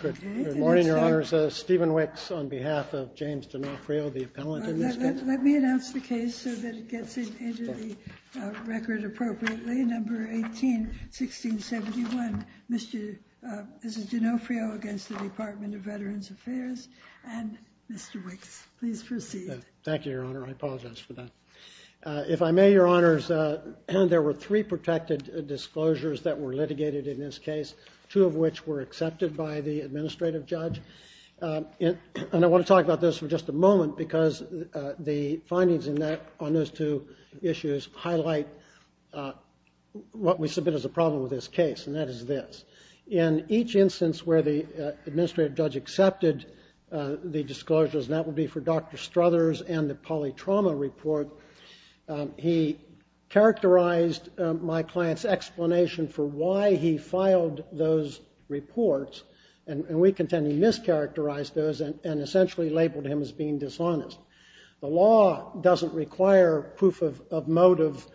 Good morning, Your Honors. Stephen Wicks on behalf of James Denofrio, the appellant in this case. Let me announce the case so that it gets into the record appropriately. Number 18, 1671, Mrs. Denofrio against the Department of Veterans Affairs and Mr. Wicks. Please proceed. Thank you, Your Honor. I apologize for that. If I may, Your Honors, there were three protected disclosures that were litigated in this case, two of which were accepted by the administrative judge. And I want to talk about this for just a moment because the findings on those two issues highlight what we submit as a problem with this case, and that is this. In each instance where the administrative judge accepted the disclosures, and that will be for Dr. Struthers and the polytrauma report, he characterized my client's explanation for why he filed those reports, and we contend he mischaracterized those and essentially labeled him as being dishonest. The law doesn't require proof of motive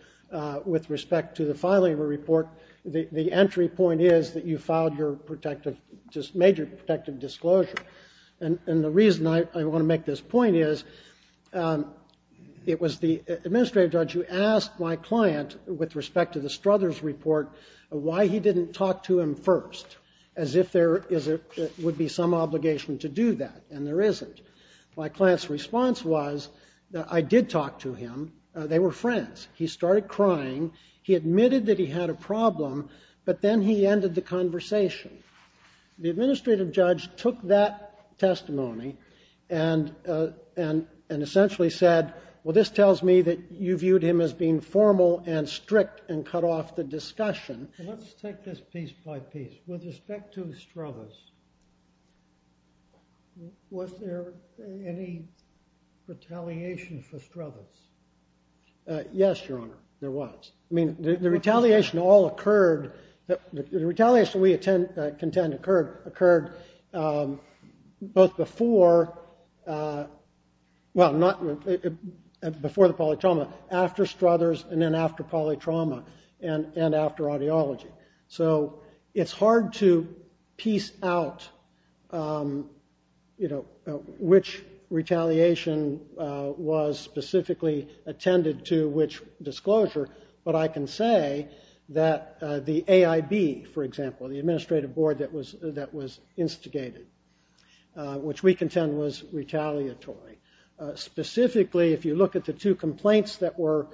with respect to the filing of a report. The entry point is that you filed your protective, just made your protective disclosure. And the reason I want to make this point is it was the administrative judge who asked my client with respect to the Struthers report why he didn't talk to him first, as if there would be some obligation to do that, and there isn't. My client's response was that I did talk to him. They were friends. He started crying. He admitted that he had a problem, but then he ended the conversation. The administrative judge took that testimony and essentially said, well, this tells me that you viewed him as being formal and strict and cut off the discussion. Let's take this piece by piece. With respect to Struthers, was there any retaliation for Struthers? Yes, Your Honor, there was. I mean, the retaliation all the way, both before the polytrauma, after Struthers, and then after polytrauma, and after audiology. So it's hard to piece out which retaliation was specifically attended to, which disclosure, but I can say that the AIB, for example, the administrative board that was instigated, which we contend was retaliatory. Specifically, if you look at the two complaints that were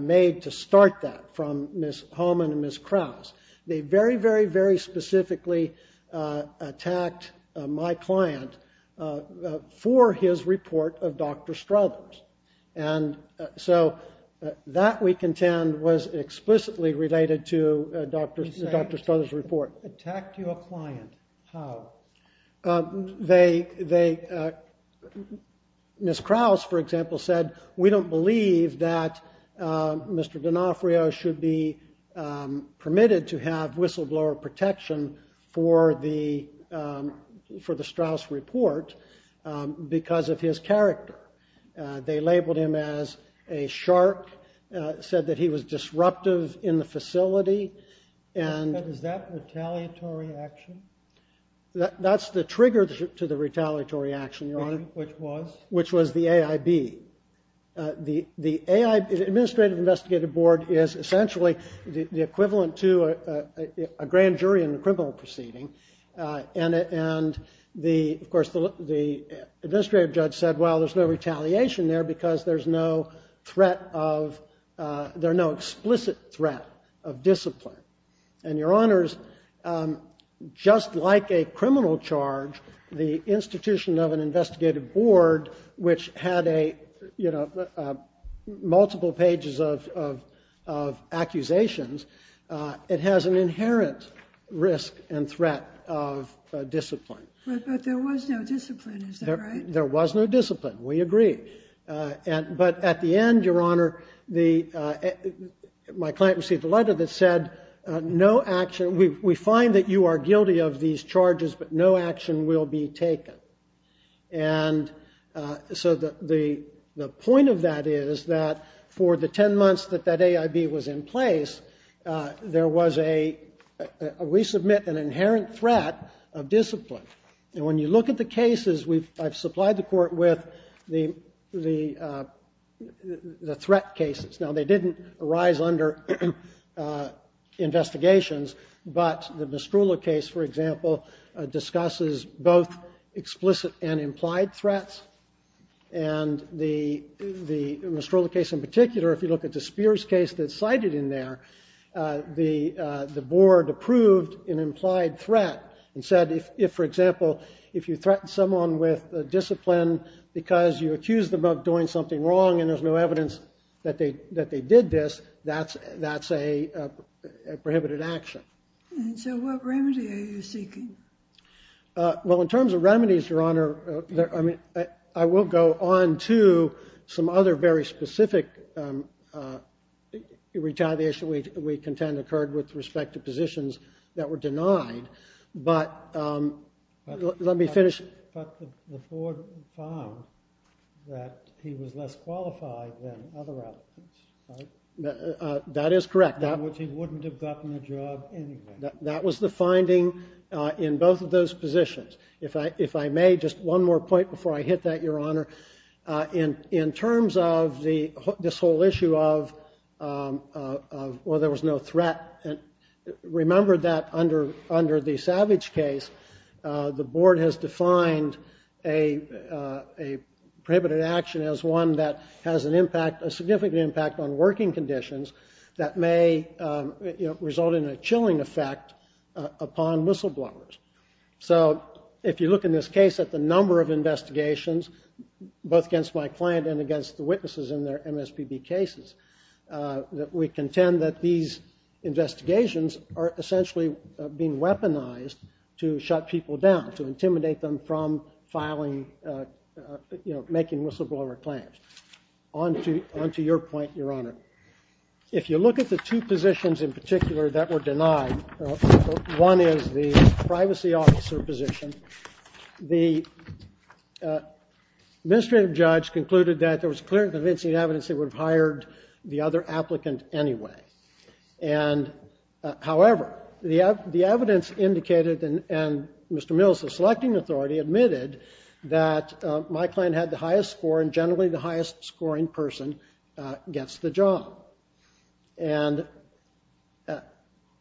made to start that from Ms. Homan and Ms. Krause, they very, very, very specifically attacked my client for his report of Dr. Struthers, and so that, we don't believe that Mr. D'Onofrio should be permitted to have whistleblower protection for the Struthers report because of his character. They labeled him as a That's the trigger to the retaliatory action, Your Honor. Which was? Which was the AIB. The administrative investigative board is essentially the equivalent to a grand jury in a criminal proceeding, and the, of course, the administrative judge said, well, there's no retaliation there because there's no threat of, there are no Just like a criminal charge, the institution of an investigative board, which had a, you know, multiple pages of accusations, it has an inherent risk and threat of discipline. But there was no discipline, is that right? There was no discipline, we agree. And, but at the end, Your Honor, the, my client received a letter that said, no action, we find that you are guilty of these charges, but no action will be taken. And so the, the point of that is that for the 10 months that that AIB was in place, there was a, we submit an inherent threat of discipline. And when you look at the cases, we've, I've supplied the court with the, the, the threat cases. Now, they didn't arise under investigations, but the Mistrula case, for example, discusses both explicit and implied threats. And the, the Mistrula case in particular, if you look at the Spears case that's cited in there, the the board approved an implied threat and said, if, if, for example, if you threaten someone with discipline because you accuse them of doing something wrong and there's no evidence that they, that they did this, that's, that's a prohibited action. And so what remedy are you seeking? Well, in terms of remedies, Your Honor, I mean, I will go on to some other very specific retaliation we, we contend occurred with respect to positions that were denied. But let me finish. But the board is less qualified than other applicants, right? That is correct. In which he wouldn't have gotten a job anyway. That was the finding in both of those positions. If I, if I may, just one more point before I hit that, Your Honor. In, in terms of the, this whole issue of, well, there was no threat. And remember that under, under the Savage case, the board has defined a, a prohibited action as one that has an impact, a significant impact on working conditions that may result in a chilling effect upon whistleblowers. So if you look in this case at the number of investigations, both against my client and against the witnesses in their MSPB cases, that we contend that these investigations are essentially being weaponized to shut people down, to intimidate them from filing, you know, on to, on to your point, Your Honor. If you look at the two positions in particular that were denied, one is the privacy officer position. The administrative judge concluded that there was clear convincing evidence they would have hired the other applicant anyway. And however, the, the evidence indicated, and, and Mr. Mills, the selecting authority, admitted that my client had the highest score and generally the highest scoring person gets the job. And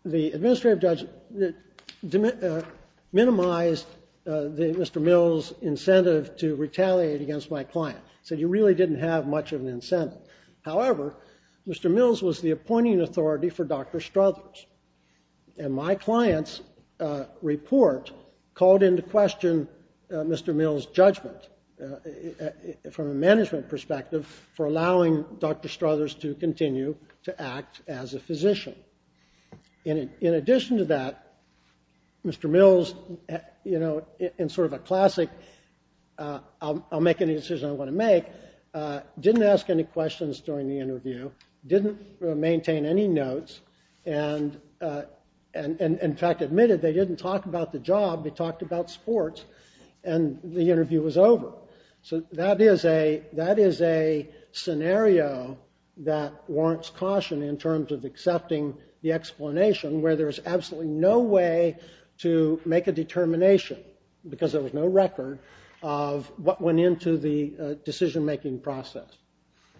the administrative judge minimized the, Mr. Mills' incentive to retaliate against my client. So you really didn't have much of an incentive. However, Mr. Mills was the appointing authority for Dr. Struthers. And my client's report called into question Mr. Mills' judgment from a management perspective for allowing Dr. Struthers to continue to act as a physician. In, in addition to that, Mr. Mills, you know, in sort of a classic, I'll, I'll make any decision I want to make, didn't ask any questions during the interview, didn't maintain any job, he talked about sports, and the interview was over. So that is a, that is a scenario that warrants caution in terms of accepting the explanation where there's absolutely no way to make a determination, because there was no record, of what went into the decision-making process.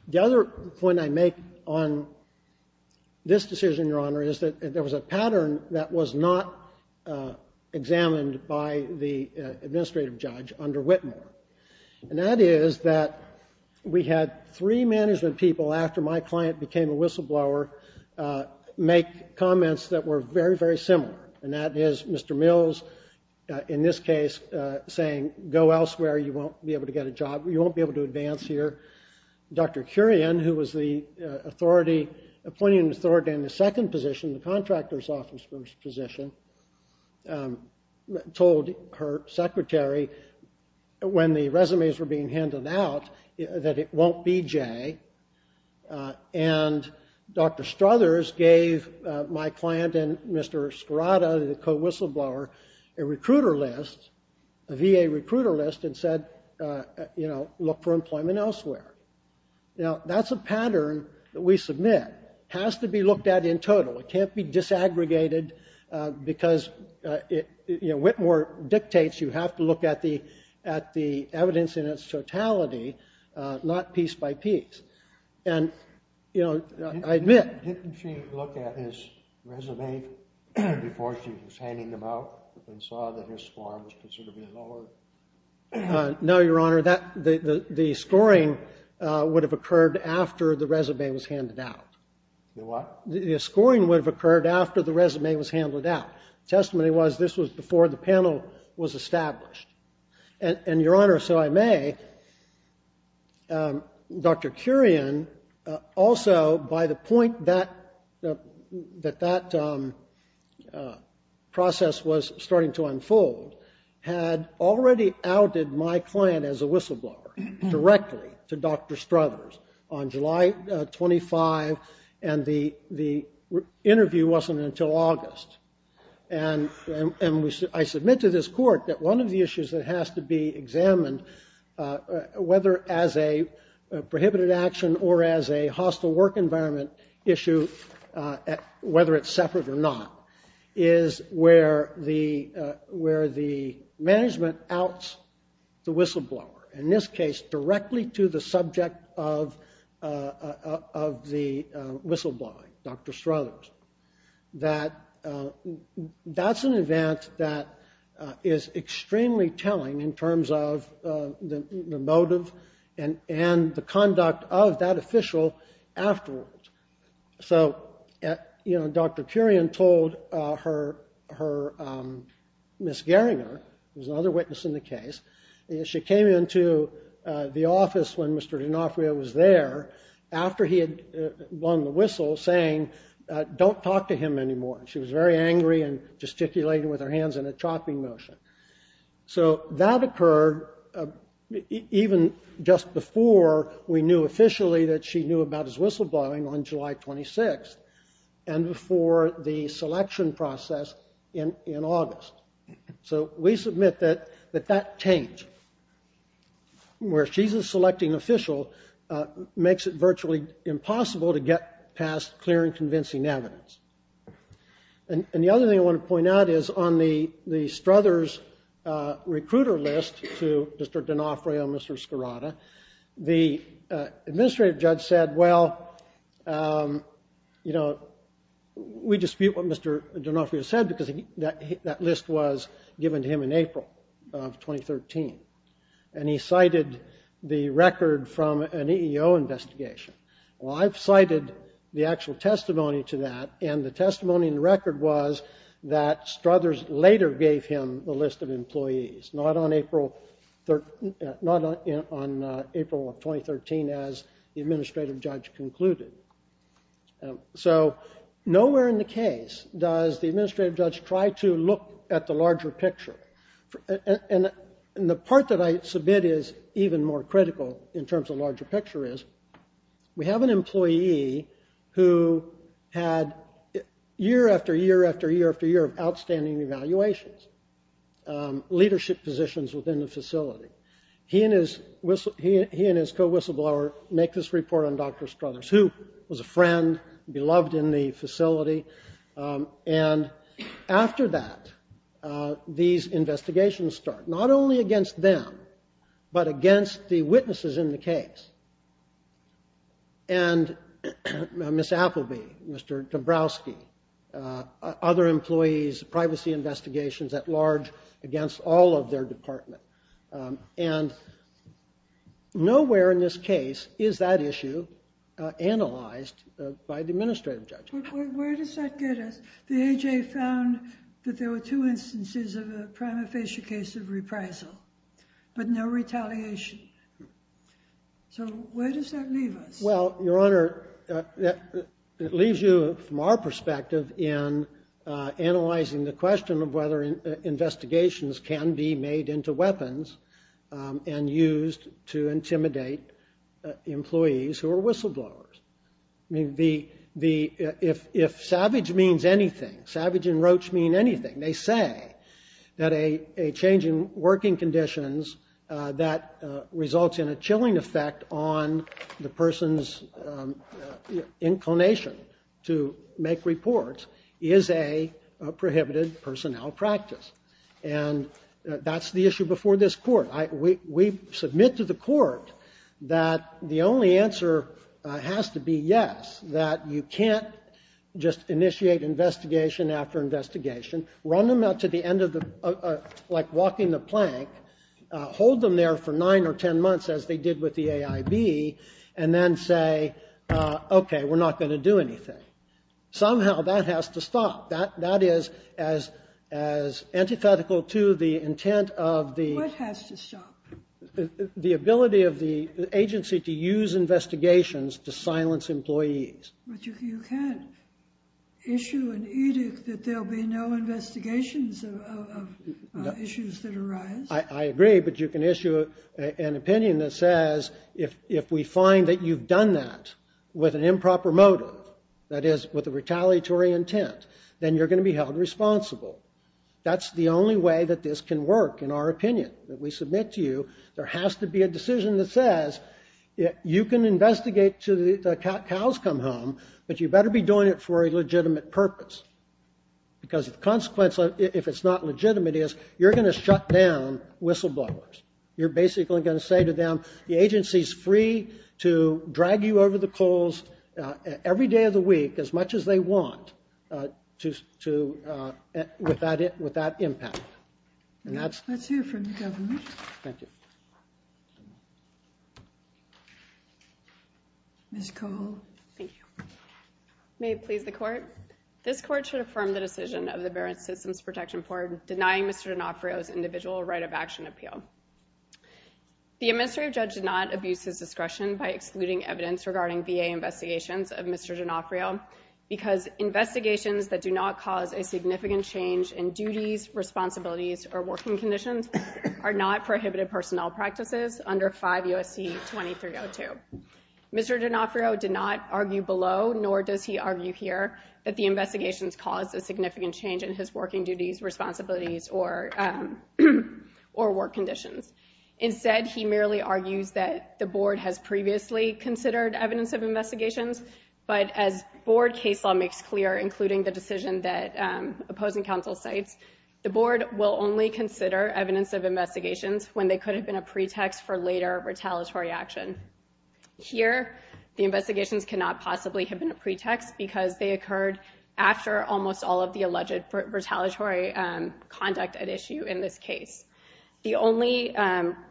The other point I want to make on this decision, Your Honor, is that there was a pattern that was not examined by the administrative judge under Whitmore. And that is that we had three management people, after my client became a whistleblower, make comments that were very, very similar. And that is Mr. Mills, in this case, saying, go to the, authority, appointing authority in the second position, the contractor's office position, told her secretary, when the resumes were being handed out, that it won't be Jay. And Dr. Struthers gave my client and Mr. Skirata, the co-whistleblower, a recruiter list, a VA recruiter list, and said, you know, look for employment elsewhere. Now, that's a pattern that we submit. It has to be looked at in total. It can't be disaggregated, because it, you know, Whitmore dictates you have to look at the, at the evidence in its totality, not piece by piece. And, you know, I admit. Didn't she look at his resume before she was handing them out, and saw that his score was considered to be lower? No, Your Honor. That, the, the, the scoring would have occurred after the resume was handed out. The what? The scoring would have occurred after the resume was handled out. The testimony was, this was before the panel was established. And, and, Your Honor, so I may, Dr. Kurian, also, by the point that, that, that process was starting to unfold, had already outed my client as a whistleblower directly to Dr. Struthers on July 25, and the, the interview wasn't until August. And, and we, I submit to this court that one of the issues that has to be examined, whether as a prohibited action or as a hostile work environment issue, whether it's separate or not, is where the, where the management outs the whistleblower. In this case, directly to the subject of, of the whistleblowing, Dr. Struthers. That, that's an event that is extremely telling in terms of the motive and, and the conduct of that official afterwards. So, you know, Dr. Kurian told her, her, Ms. Gerringer, who's another witness in the case, she came into the office when Mr. D'Onofrio was there, after he had blown the whistle, saying, don't talk to him anymore. She was very angry and gesticulating with her hands in a chopping motion. So that occurred even just before we knew officially that she knew about his whistleblowing on July 26, and before the selection process in, in August. So we submit that, that that change, where she's a selecting official, makes it virtually impossible to get past clear and convincing evidence. And, and the other thing I want to point out is on the, the Struthers recruiter list to Mr. D'Onofrio and Mr. Scarrotta, the administrative judge said, well, you know, we dispute what Mr. D'Onofrio said because he, that, that list wasn't there. The list was given to him in April of 2013. And he cited the record from an EEO investigation. Well, I've cited the actual testimony to that, and the testimony in the record was that Struthers later gave him the list of employees, not on April 13, not on April of 2013, as the administrative judge concluded. So nowhere in the case does the administrative judge try to look at the larger picture. And, and the part that I submit is even more critical in terms of larger picture is, we have an employee who had year after year after year after year of outstanding evaluations, leadership positions within the facility. He and his whistle, he and his co-whistleblower make this report on Dr. Struthers, who was a friend, beloved in the facility. And after that, these investigations start, not only against them, but against the witnesses in the case. And Ms. Appleby, Mr. Dabrowski, other employees, privacy investigations at large against all of their department. And nowhere in this case is that issue analyzed by the administrative judge. Where does that get us? The AHA found that there were two instances of a prima facie case of reprisal, but no retaliation. So where does that leave us? Well, Your Honor, it leaves you, from our perspective, in analyzing the question of whether investigations can be made into weapons and used to intimidate employees who are whistleblowers. I mean, if savage means anything, savage and roach mean anything, they say that a change in working conditions that results in a chilling effect on the person's inclination to make reports is a prohibited personnel practice. And that's the issue before this Court. We submit to the Court that the only answer has to be yes, that you can't just initiate investigation after investigation, run them out to the end of the, like walking the plank, hold them there for nine or ten months as they did with the AIB, and then say, okay, we're not going to do anything. Somehow that has to stop. That is as antithetical to the intent of the- What has to stop? The ability of the agency to use investigations to silence employees. But you can't issue an edict that there'll be no investigations of issues that arise. I agree, but you can issue an opinion that says, if we find that you've done that with an improper motive, that is, with a retaliatory intent, then you're going to be held responsible. That's the only way that this can work, in our opinion, that we submit to you. There has to be a decision that says, you can investigate until the cows come home, but you better be doing it for a legitimate purpose. Because the consequence, if it's not legitimate, is you're going to shut down whistleblowers. You're basically going to say to them, the agency's free to drag you over the coals every day of the week, as much as they want, with that impact. Let's hear from the government. Thank you. Ms. Cole. Thank you. May it please the court. This court should affirm the decision of the Barron Systems Protection Board denying Mr. D'Onofrio's individual right of action appeal. The administrative judge did not abuse his discretion by excluding evidence regarding VA investigations of Mr. D'Onofrio, because investigations that do not cause a significant change in duties, responsibilities, or working conditions are not prohibited personnel practices under 5 U.S.C. 2302. Mr. D'Onofrio did not argue below, nor does he argue here, that the investigations caused a significant change in his working duties, responsibilities, or work conditions. Instead, he merely argues that the board has previously considered evidence of investigations, but as board case law makes clear, including the decision that opposing counsel cites, the board will only consider evidence of investigations when they could have been a pretext for later retaliatory action. Here, the investigations cannot possibly have been a pretext, because they occurred after almost all of the alleged retaliatory conduct at issue in this case. The only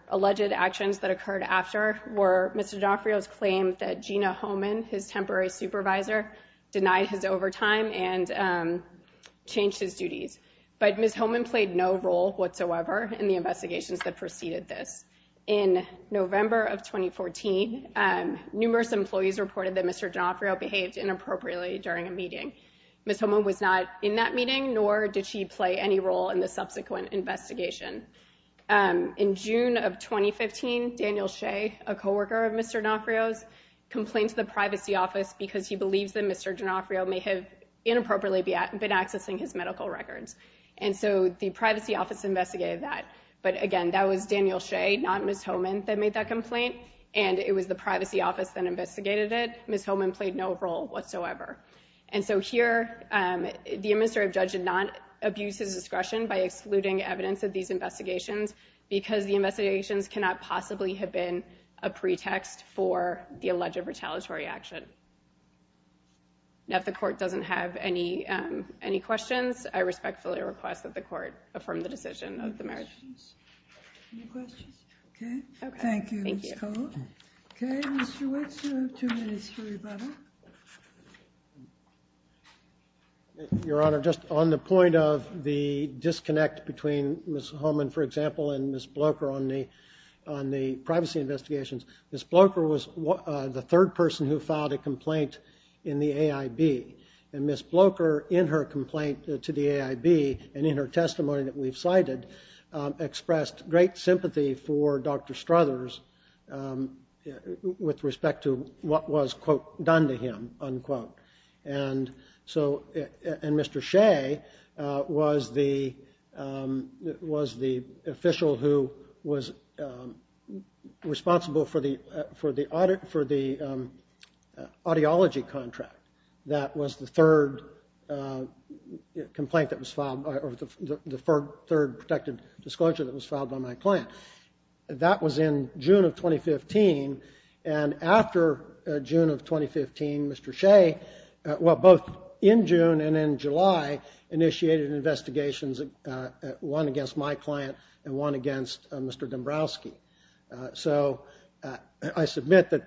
alleged actions that occurred after were Mr. D'Onofrio's claim that Gina Homan, his temporary supervisor, denied his overtime and changed his duties. But Ms. Homan played no role whatsoever in the investigations that preceded this. In November of 2014, numerous employees reported that Mr. D'Onofrio behaved inappropriately during a meeting. Ms. Homan was not in that meeting, nor did she play any role in the subsequent investigation. In June of 2015, Daniel Shea, a coworker of Mr. D'Onofrio's, complained to the privacy office because he believes that Mr. D'Onofrio may have inappropriately been accessing his medical records. And so the privacy office investigated that, but again, that was Daniel Shea, not Ms. Homan, that made that complaint, and it was the privacy office that investigated it. Ms. Homan played no role whatsoever. And so here, the administrative judge did not abuse his discretion by excluding evidence of these investigations because the investigations cannot possibly have been a pretext for the alleged retaliatory action. Now, if the court doesn't have any questions, I respectfully request that the court affirm the decision of the marriage. Any questions? Okay. Thank you, Ms. Cole. Okay, Mr. Wicks, you have two minutes for rebuttal. Your Honor, just on the point of the disconnect between Ms. Homan, for example, and Ms. Blocher on the privacy investigations, Ms. Blocher was the third person who filed a complaint in the AIB, and Ms. Blocher, in her complaint to the AIB and in her testimony that we've cited, expressed great sympathy for Dr. Struthers with respect to what was, quote, that was the third complaint that was filed, or the third protected disclosure that was filed by my client. That was in June of 2015. And after June of 2015, Mr. Shea, well, both in June and in July, initiated investigations, one against my client and one against Mr. Dombrowski. So I submit that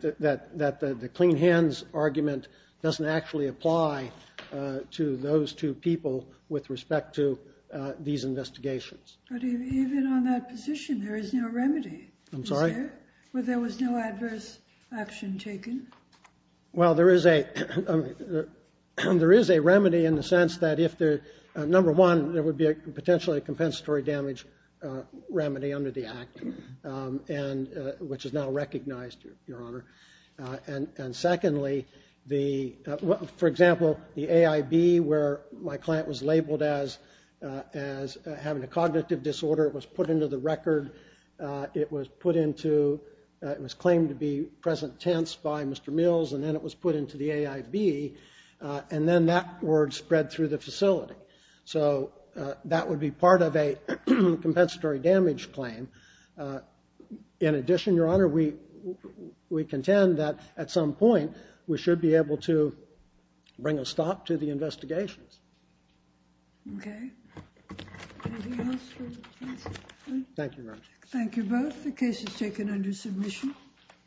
the clean hands argument doesn't actually apply to those two people with respect to these investigations. But even on that position, there is no remedy. I'm sorry? Where there was no adverse action taken. Well, there is a remedy in the sense that, number one, there would be potentially a compensatory damage remedy under the act, which is now recognized, Your Honor. And secondly, for example, the AIB, where my client was labeled as having a cognitive disorder, was put into the record. It was put into, it was claimed to be present tense by Mr. Mills, and then it was put into the AIB. And then that word spread through the facility. So that would be part of a compensatory damage claim. In addition, Your Honor, we contend that at some point we should be able to bring a stop to the investigations. Okay. Anything else? Thank you, Your Honor. Thank you both. The case is taken under submission.